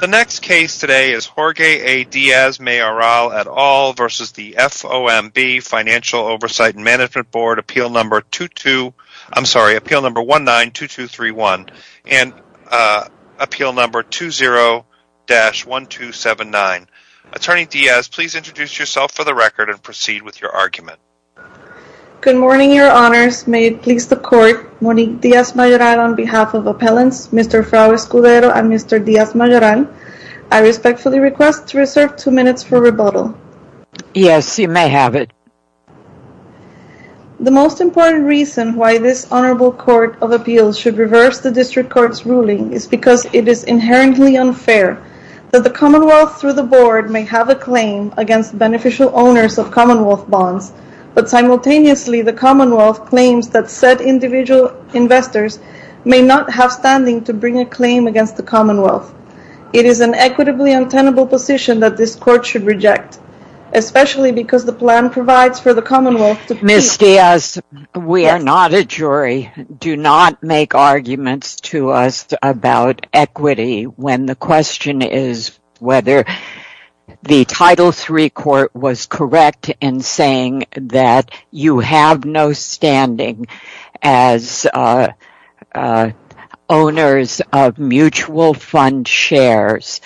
The next case today is Jorge A. Diaz Mayoral et al. v. FOMB, Financial Oversight and Management Board, Appeal No. 19-2231 and Appeal No. 20-1279. Attorney Diaz, please introduce yourself for the record and proceed with your argument. Good morning, Your Honors. May it please the Court, Monique Diaz Mayoral, on behalf of Appellants, Mr. Fraud Escudero and Mr. Diaz Mayoral, I respectfully request to reserve two minutes for rebuttal. Yes, you may have it. The most important reason why this Honorable Court of Appeals should reverse the District Court's ruling is because it is inherently unfair that the Commonwealth through the Board may have a claim against beneficial owners of Commonwealth bonds, but simultaneously the Commonwealth claims that said individual investors may not have standing to bring a commonwealth. It is an equitably untenable position that this Court should reject, especially because the plan provides for the Commonwealth to pay— Ms. Diaz, we are not a jury. Do not make arguments to us about equity when the question is whether the Title III Court was correct in saying that you have no standing as owners of mutual fund shares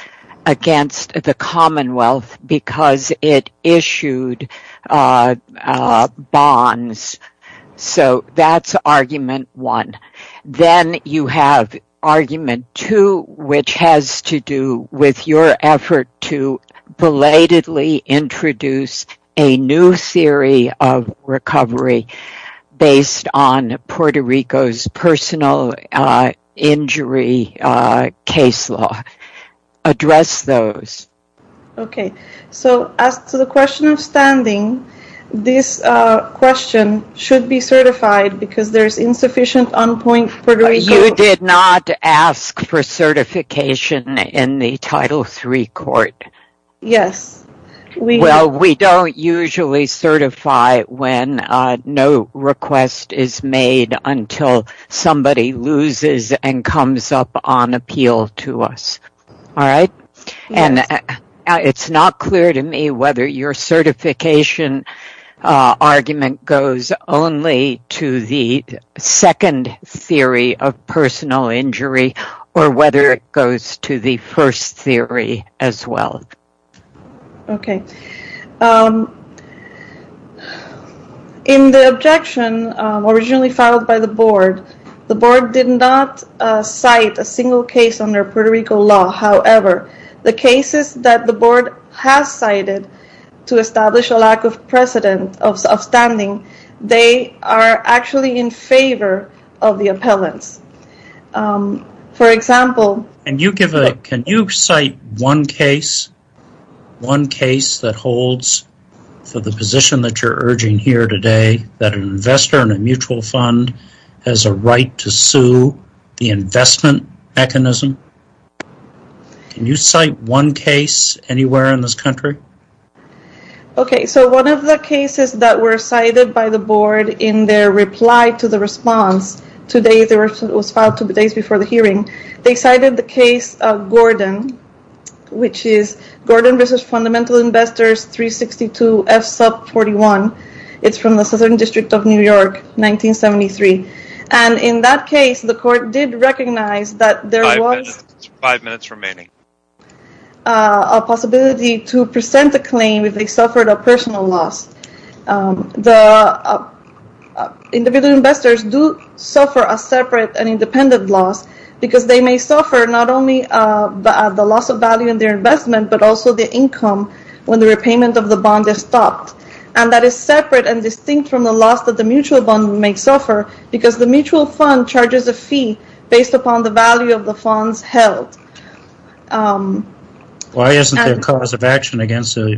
against the Commonwealth because it issued bonds. So that is argument one. Then you have argument two, which has to do with your effort to belatedly introduce a new theory of recovery based on Puerto Rico's personal injury case law. Address those. Okay. So, as to the question of standing, this question should be certified because there is insufficient You did not ask for certification in the Title III Court. Yes. Well, we don't usually certify when no request is made until somebody loses and comes up on appeal to us. All right. It's not clear to me whether your certification argument goes only to the second theory of personal injury or whether it goes to the first theory as well. Okay. In the objection originally filed by the Board, the Board did not cite a single case under Puerto Rico law. However, the cases that the Board has cited to establish a lack of precedent of standing, they are actually in favor of the appellants. For example- Can you cite one case that holds for the position that you're urging here today that an investor in a mutual fund has a right to sue the investment mechanism? Can you cite one case anywhere in this country? Okay. So, one of the cases that were cited by the Board in their reply to the response today that was filed two days before the hearing, they cited the case of Gordon, which is Gordon vs. Fundamental Investors 362 F sub 41. It's from the Southern District of New York, 1973. In that case, the court did recognize that there was a possibility to present a claim if they suffered a personal loss. The individual investors do suffer a separate and independent loss because they may suffer not only the loss of value in their investment, but also the income when the repayment of the bond is stopped. That is separate and distinct from the loss that the mutual bond may suffer because the mutual fund charges a fee based upon the value of the funds held. Why isn't there cause of action against the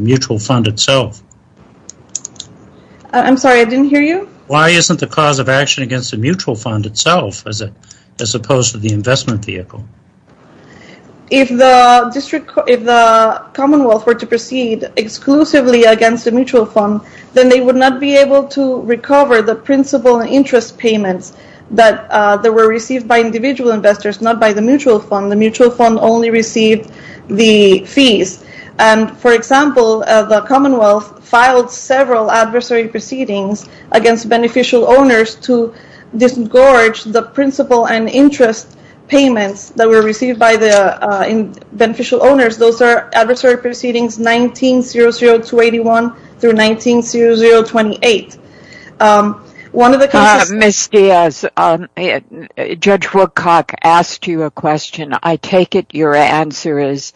mutual fund itself? I'm sorry, I didn't hear you? Why isn't there cause of action against the mutual fund itself as opposed to the investment vehicle? If the Commonwealth were to proceed exclusively against the mutual fund, then they would not be able to recover the principal and interest payments that were received by individual investors, not by the mutual fund. The mutual fund only received the fees. For example, the Commonwealth filed several adversary proceedings against beneficial owners to disgorge the principal and interest payments that were received by the beneficial owners. Those are adversary proceedings 1900-21 through 1900-28. Judge Woodcock asked you a question. I take it your answer is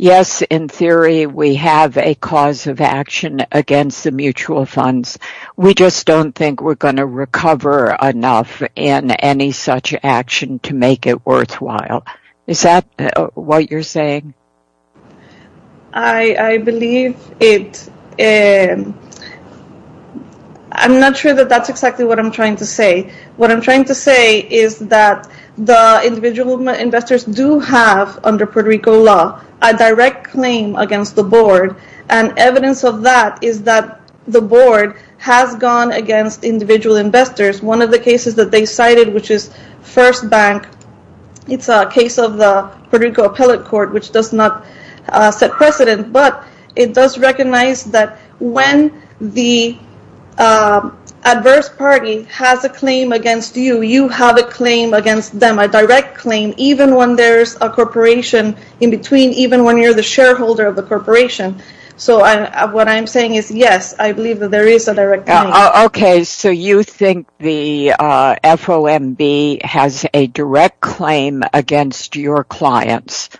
yes, in theory, we have a cause of action against the mutual funds. We just don't think we're going to recover enough in any such action to make it worthwhile. Is that what you're saying? I believe it. I'm not sure that that's exactly what I'm trying to say. What I'm trying to say is that the individual investors do have, under Puerto Rico law, a direct claim against the board. Evidence of that is that the board has gone against individual investors. One of the cases that they cited, which is First Bank, it's a case of the Puerto Rico Appellate Court, which does not set precedent. It does recognize that when the adverse party has a claim against you, you have a claim against them, a direct claim, even when there's a corporation in between, even when you're the shareholder of the corporation. What I'm saying is yes, I believe that there is a direct claim. You think the FOMB has a direct claim against your clients.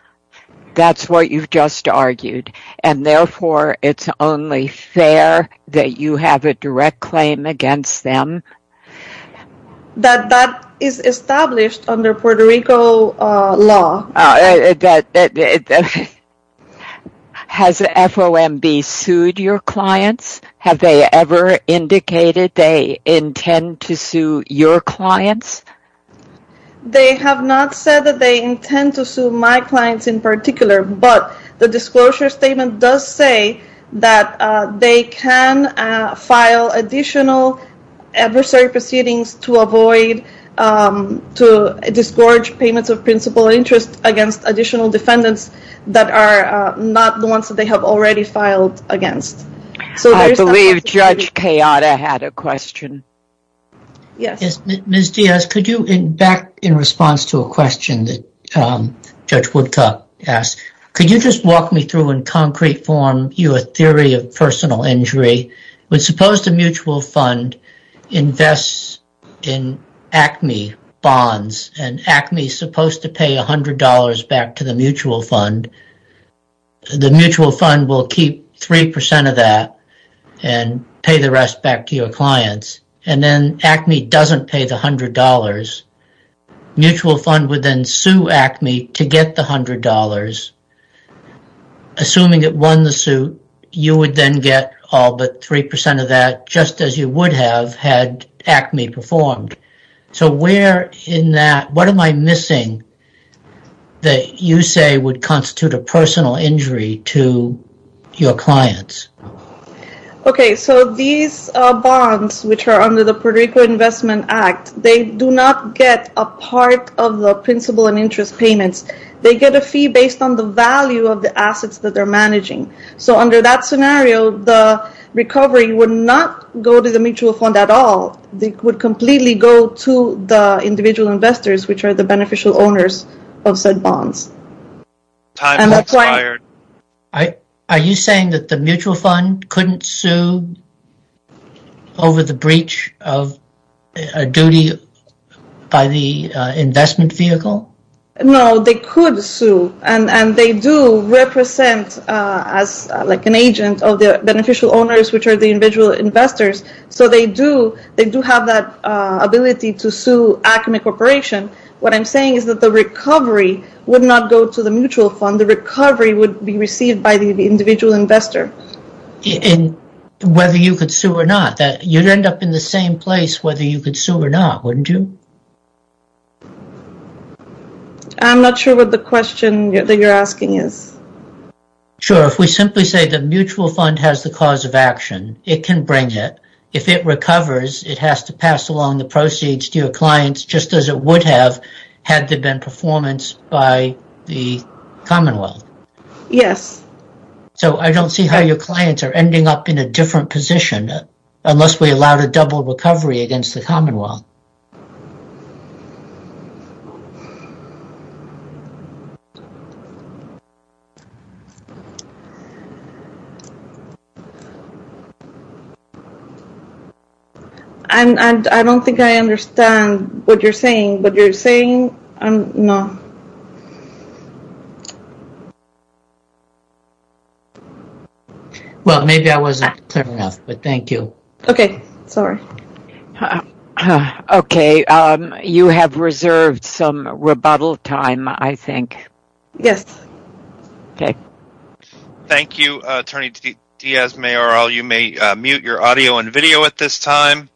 That's what you've just argued. Therefore, it's only fair that you have a direct claim against them? That is established under Puerto Rico law. Has FOMB sued your clients? Have they ever indicated they intend to sue your clients? They have not said that they intend to sue my clients in particular, but the disclosure statement does say that they can file additional adversary proceedings to avoid, to disgorge payments of principal interest against additional defendants that are not the ones that they have already filed against. I believe Judge Kayada had a question. Yes. Ms. Diaz, could you, back in response to a question that Judge Woodcock asked, could you just walk me through in concrete form your theory of personal injury? Suppose the mutual fund invests in Acme bonds and Acme is supposed to pay $100 back to the mutual fund. The mutual fund will keep 3% of that and pay the rest back to your clients. Then Acme doesn't pay the $100. The mutual fund would then sue Acme to get the $100. Assuming it won the suit, you would then get all but 3% of that, just as you would have had Acme performed. What am I missing that you say would constitute a personal injury to your clients? Okay, so these bonds, which are under the Puerto Rico Investment Act, they do not get a part of the principal and interest payments. They get a fee based on the value of the assets that they're managing. Under that scenario, the recovery would not go to the mutual fund at all. It would completely go to the individual investors, which are the beneficial owners of said bonds. Are you saying that the mutual fund couldn't sue over the breach of a duty by the investment vehicle? No, they could sue and they do represent an agent of the beneficial owners, which are the individual investors, so they do have that ability to sue Acme Corporation. What I'm saying is that the recovery would not go to the mutual fund. The recovery would be received by the individual investor. Whether you could sue or not, you'd end up in the same place whether you could sue or not, wouldn't you? I'm not sure what the question that you're asking is. Sure, if we simply say the mutual fund has the cause of action, it can bring it. If it recovers, it has to pass along the proceeds to your clients just as it would have had there been performance by the commonwealth. I don't see how your clients are ending up in a different position unless we allowed a double recovery against the commonwealth. I don't think I understand what you're saying, but you're saying no. Well, maybe I wasn't clear enough, but thank you. Okay, sorry. Okay, you have reserved some rebuttal time, I think. Yes. Okay. Thank you, Attorney Diaz-Mayoral. You may mute your audio and video at this time.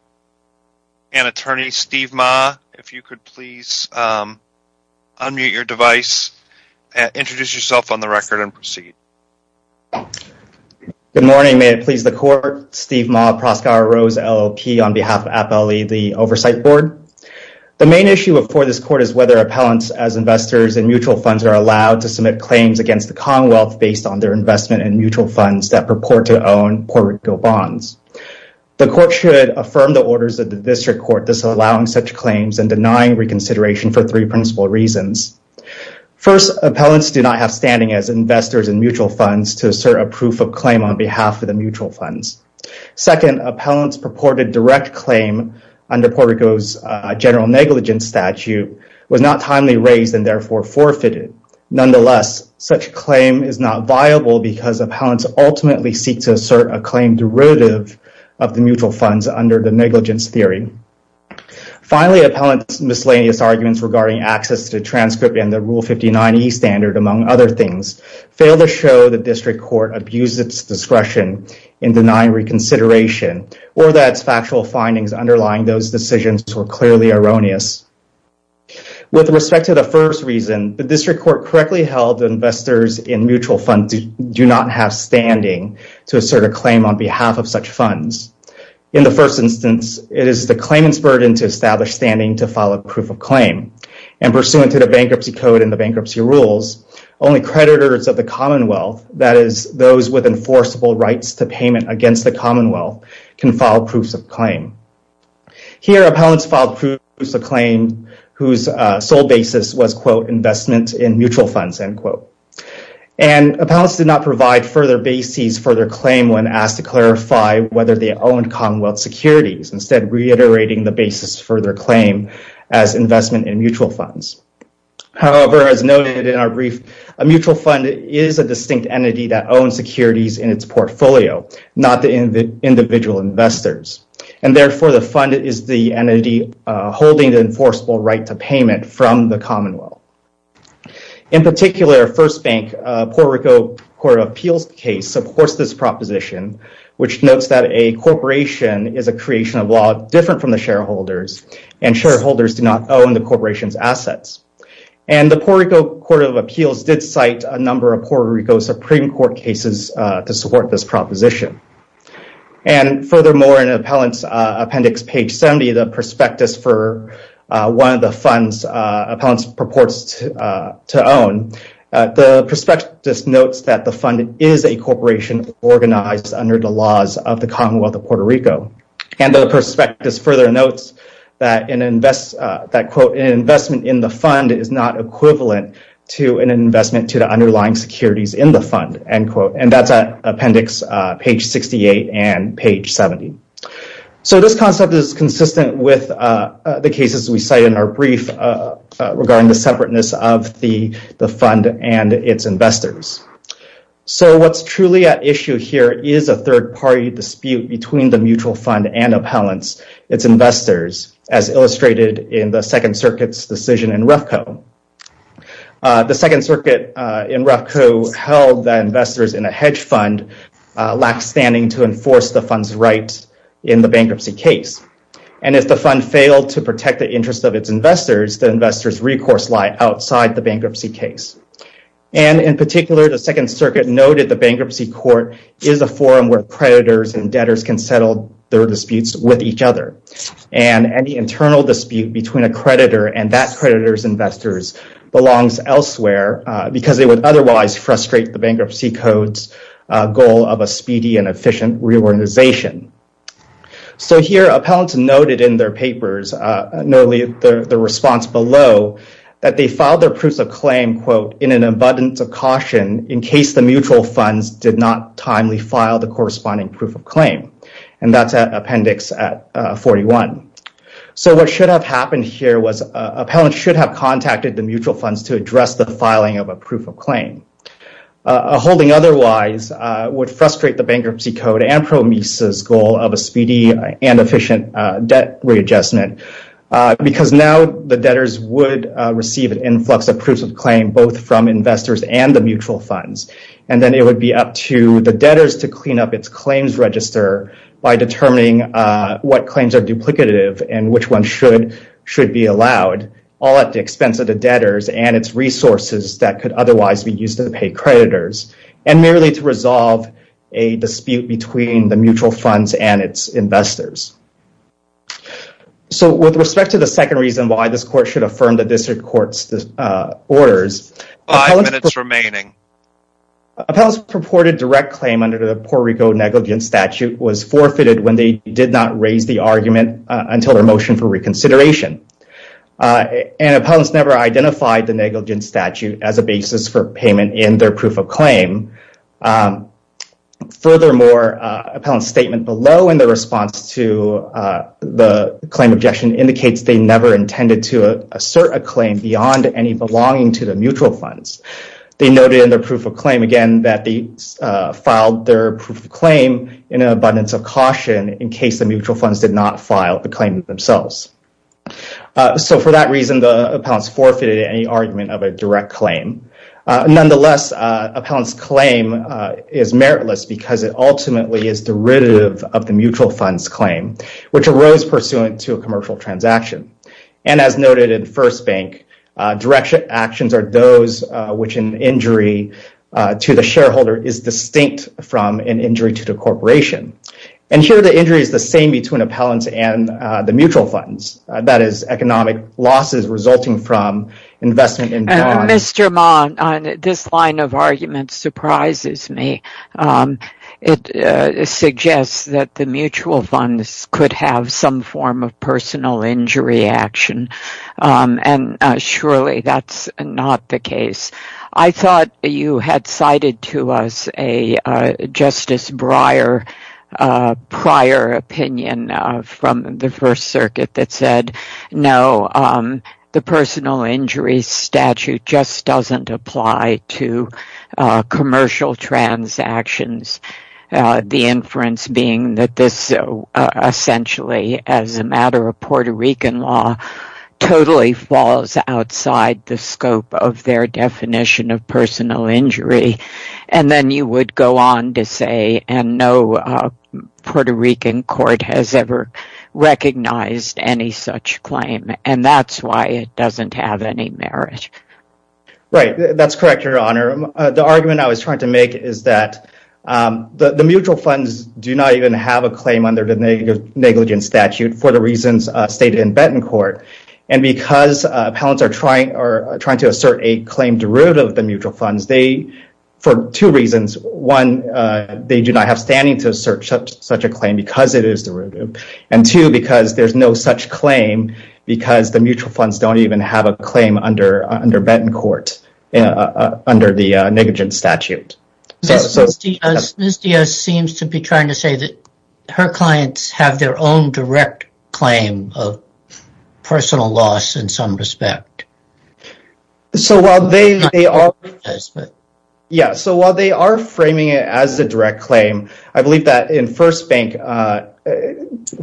Attorney Steve Ma, if you could please unmute your device, introduce yourself on the record, and proceed. Good morning. May it please the court. Steve Ma, Proskauer Rose LLP on behalf of AppLE, the Oversight Board. The main issue before this court is whether appellants as investors in mutual funds are allowed to submit claims against the commonwealth based on their investment in mutual funds that purport to own Puerto Rico bonds. The court should affirm the orders of the district court disallowing such claims and denying reconsideration for three principal reasons. First, appellants do not have standing as investors in mutual funds to assert a proof of claim on behalf of the mutual funds. Second, appellants' purported direct claim under Puerto Rico's general negligence statute was not timely raised and therefore forfeited. Nonetheless, such claim is not viable because appellants ultimately seek to assert a claim derivative of the mutual funds under the negligence theory. Finally, appellants' miscellaneous arguments regarding access to transcript and the Rule 59e standard, among other things, fail to show the district court abused its discretion in denying reconsideration or that its factual findings underlying those decisions were clearly erroneous. With respect to the first reason, the district court correctly held investors in mutual funds do not have standing to assert a claim on behalf of such funds. In the first instance, it is the claimant's burden to establish standing to file a proof of claim. Pursuant to the Bankruptcy Code and the Bankruptcy Rules, only creditors of the commonwealth, that is, those with enforceable rights to payment against the commonwealth, can file proofs of claim. Here, appellants filed proofs of claim whose sole basis was, quote, investment in mutual funds, end quote. And appellants did not provide further basis for their claim when asked to clarify whether they owned commonwealth securities, instead reiterating the basis for their claim as investment in mutual funds. However, as noted in our brief, a mutual fund is a distinct entity that owns securities in its portfolio, not the individual investors. And therefore, the fund is the entity holding the enforceable right to payment from the commonwealth. In particular, First Bank Puerto Rico Court of Appeals case supports this proposition, which notes that a corporation is a creation of law different from the shareholders, and shareholders do not own the corporation's assets. And the Puerto Rico Court of Appeals did cite a number of Puerto Rico Supreme Court cases to support this proposition. And furthermore, in Appellants Appendix page 70, the prospectus for one of the funds appellants purports to own, the prospectus notes that the fund is a corporation organized under And the prospectus further notes that an investment in the fund is not equivalent to an investment to the underlying securities in the fund, end quote. And that's Appendix page 68 and page 70. So this concept is consistent with the cases we cite in our brief regarding the separateness of the fund and its investors. So what's truly at issue here is a third-party dispute between the mutual fund and appellants, its investors, as illustrated in the Second Circuit's decision in Refco. The Second Circuit in Refco held that investors in a hedge fund lack standing to enforce the fund's rights in the bankruptcy case. And if the fund failed to protect the interests of its investors, the investors' recourse lie outside the bankruptcy case. And in particular, the Second Circuit noted the bankruptcy court is a forum where creditors and debtors can settle their disputes with each other. And any internal dispute between a creditor and that creditor's investors belongs elsewhere because they would otherwise frustrate the bankruptcy code's goal of a speedy and efficient reorganization. So here, appellants noted in their papers, notably the response below, that they filed their proofs of claim, quote, in an abundance of caution in case the mutual funds did not timely file the corresponding proof of claim. And that's at Appendix 41. So what should have happened here was appellants should have contacted the mutual funds to address the filing of a proof of claim. A holding otherwise would frustrate the bankruptcy code and PROMIS' goal of a speedy and efficient debt readjustment because now the debtors would receive an influx of proofs of claim both from investors and the mutual funds. And then it would be up to the debtors to clean up its claims register by determining what claims are duplicative and which ones should be allowed, all at the expense of the debtors and its resources that could otherwise be used to pay creditors, and merely to resolve a dispute between the mutual funds and its investors. So with respect to the second reason why this court should affirm the district court's orders... Five minutes remaining. Appellants purported direct claim under the Puerto Rico negligence statute was forfeited when they did not raise the argument until their motion for reconsideration. And appellants never identified the negligence statute as a basis for payment in their proof of claim. Furthermore, appellant's statement below in the response to the claim objection indicates they never intended to assert a claim beyond any belonging to the mutual funds. They noted in their proof of claim, again, that they filed their proof of claim in an abundance of caution in case the mutual funds did not file the claim themselves. So for that reason, the appellants forfeited any argument of a direct claim. Nonetheless, appellant's claim is meritless because it ultimately is derivative of the mutual funds claim, which arose pursuant to a commercial transaction. And as noted in First Bank, direct actions are those which an injury to the shareholder is distinct from an injury to the corporation. And here the injury is the same between appellants and the mutual funds. That is, economic losses resulting from investment in bonds... Mr. Monn, this line of argument surprises me. It suggests that the mutual funds could have some form of personal injury action, and surely that's not the case. I thought you had cited to us a Justice Breyer prior opinion from the First Circuit that said, no, the personal injury statute just doesn't apply to commercial transactions. The inference being that this essentially, as a matter of Puerto Rican law, totally falls outside the scope of their definition of personal injury. And then you would go on to say, and no Puerto Rican court has ever recognized any such claim, and that's why it doesn't have any merit. Right, that's correct, Your Honor. The argument I was trying to make is that the mutual funds do not even have a claim under the negligence statute for the reasons stated in Benton Court. And because appellants are trying to assert a claim derivative of the mutual funds, for two reasons. One, they do not have standing to assert such a claim because it is derivative. And two, because there's no such claim because the mutual funds don't even have a claim under Benton Court, under the negligence statute. Ms. Diaz seems to be trying to say that her clients have their own direct claim of personal loss in some respect. So while they are framing it as a direct claim, I believe that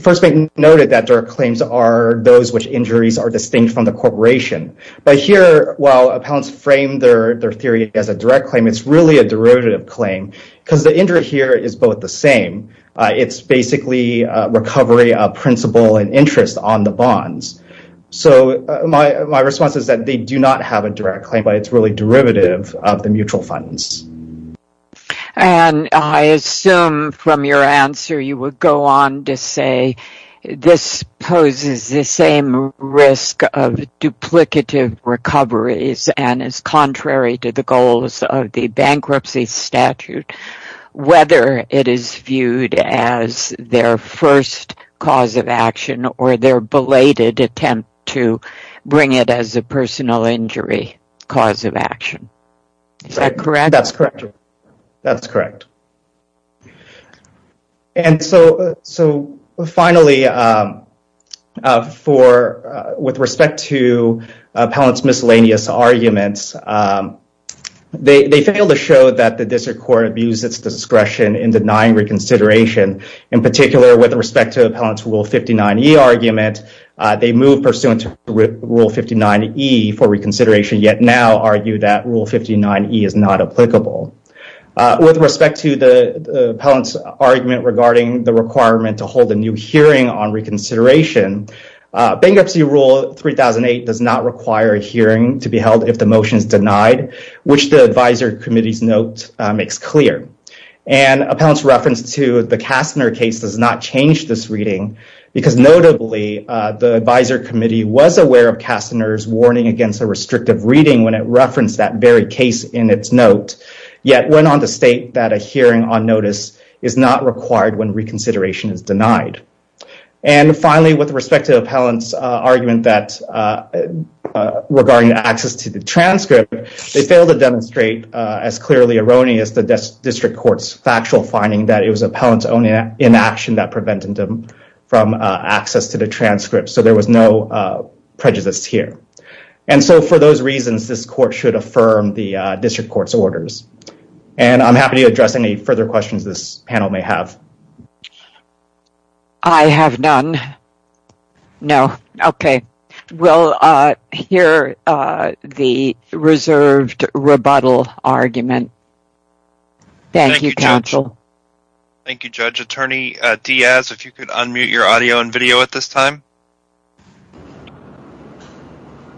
First Bank noted that their claims are those which injuries are distinct from the corporation. But here, while appellants frame their theory as a direct claim, it's really a derivative claim because the injury here is both the same. It's basically recovery of principle and interest on the bonds. So my response is that they do not have a direct claim, but it's really derivative of the mutual funds. And I assume from your answer you would go on to say this poses the same risk of duplicative recoveries and is contrary to the goals of the bankruptcy statute. Whether it is viewed as their first cause of action or their belated attempt to bring it as a personal injury cause of action. Is that correct? That's correct. That's correct. And so finally, with respect to appellant's miscellaneous arguments, they failed to show that the district court abused its discretion in denying reconsideration. In particular, with respect to appellant's Rule 59E argument, they moved pursuant to Rule 59E for reconsideration, yet now argue that Rule 59E is not applicable. With respect to the appellant's argument regarding the requirement to hold a new hearing on reconsideration, Bankruptcy Rule 3008 does not require a hearing to be held if the motion is denied, which the advisory committee's note makes clear. And appellant's reference to the Kastner case does not change this reading, because notably, the advisory committee was aware of Kastner's warning against a restrictive reading when it referenced that very case in its note, yet went on to state that a hearing on notice is not required when reconsideration is denied. And finally, with respect to appellant's argument regarding access to the transcript, they failed to demonstrate as clearly erroneous the district court's factual finding that it was appellant's own inaction that prevented them from access to the transcript. So there was no prejudice here. And so for those reasons, this court should affirm the district court's orders. And I'm happy to address any further questions this panel may have. I have none. No. Okay. We'll hear the reserved rebuttal argument. Thank you, counsel. Thank you, Judge. Attorney Diaz, if you could unmute your audio and video at this time.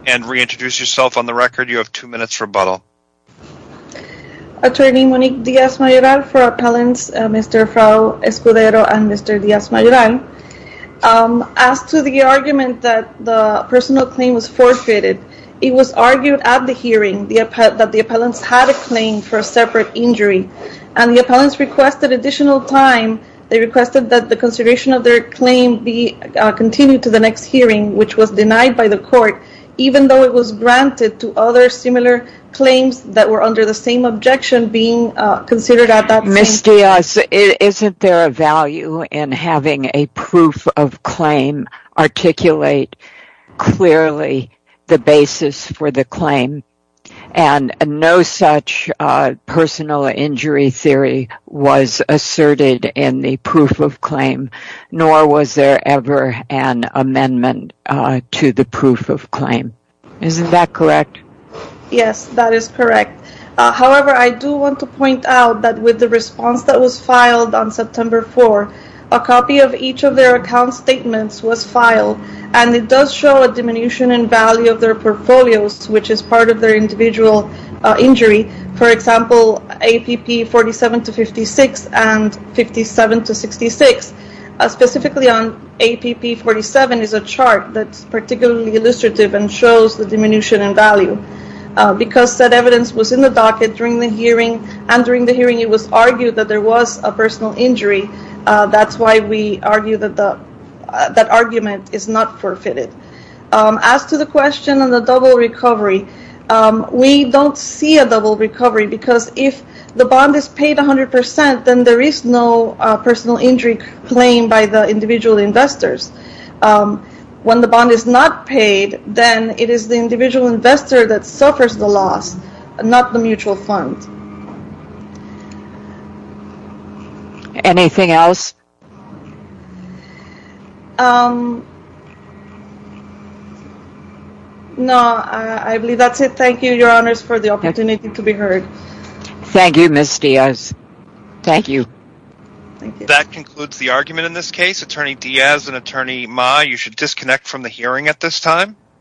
And reintroduce yourself on the record. You have two minutes rebuttal. Attorney Monique Diaz-Mayoral for appellants, Mr. Fraud Escudero and Mr. Diaz-Mayoral. As to the argument that the personal claim was forfeited, it was argued at the hearing that the appellants had a claim for a separate injury, and the appellants requested additional time. They requested that the consideration of their claim be continued to the next hearing, which was denied by the court, even though it was granted to other similar claims that were under the same objection being considered at that hearing. Ms. Diaz, isn't there a value in having a proof of claim articulate clearly the basis for the claim? And no such personal injury theory was asserted in the proof of claim, nor was there ever an amendment to the proof of claim. Isn't that correct? Yes, that is correct. However, I do want to point out that with the response that was filed on September 4, a copy of each of their portfolios, which is part of their individual injury, for example, APP 47-56 and 57-66, specifically on APP 47 is a chart that is particularly illustrative and shows the diminution in value. Because that evidence was in the docket during the hearing, and during the hearing it was argued that there was a personal injury, that's why we argue that that argument is not forfeited. As to the question on the double recovery, we don't see a double recovery because if the bond is paid 100%, then there is no personal injury claim by the individual investors. When the bond is not paid, then it is the individual investor that suffers the loss, not the mutual fund. Anything else? No, I believe that's it. Thank you, Your Honors, for the opportunity to be heard. Thank you, Ms. Diaz. Thank you. That concludes the argument in this case. Attorney Diaz and Attorney Ma, you should disconnect from the hearing at this time.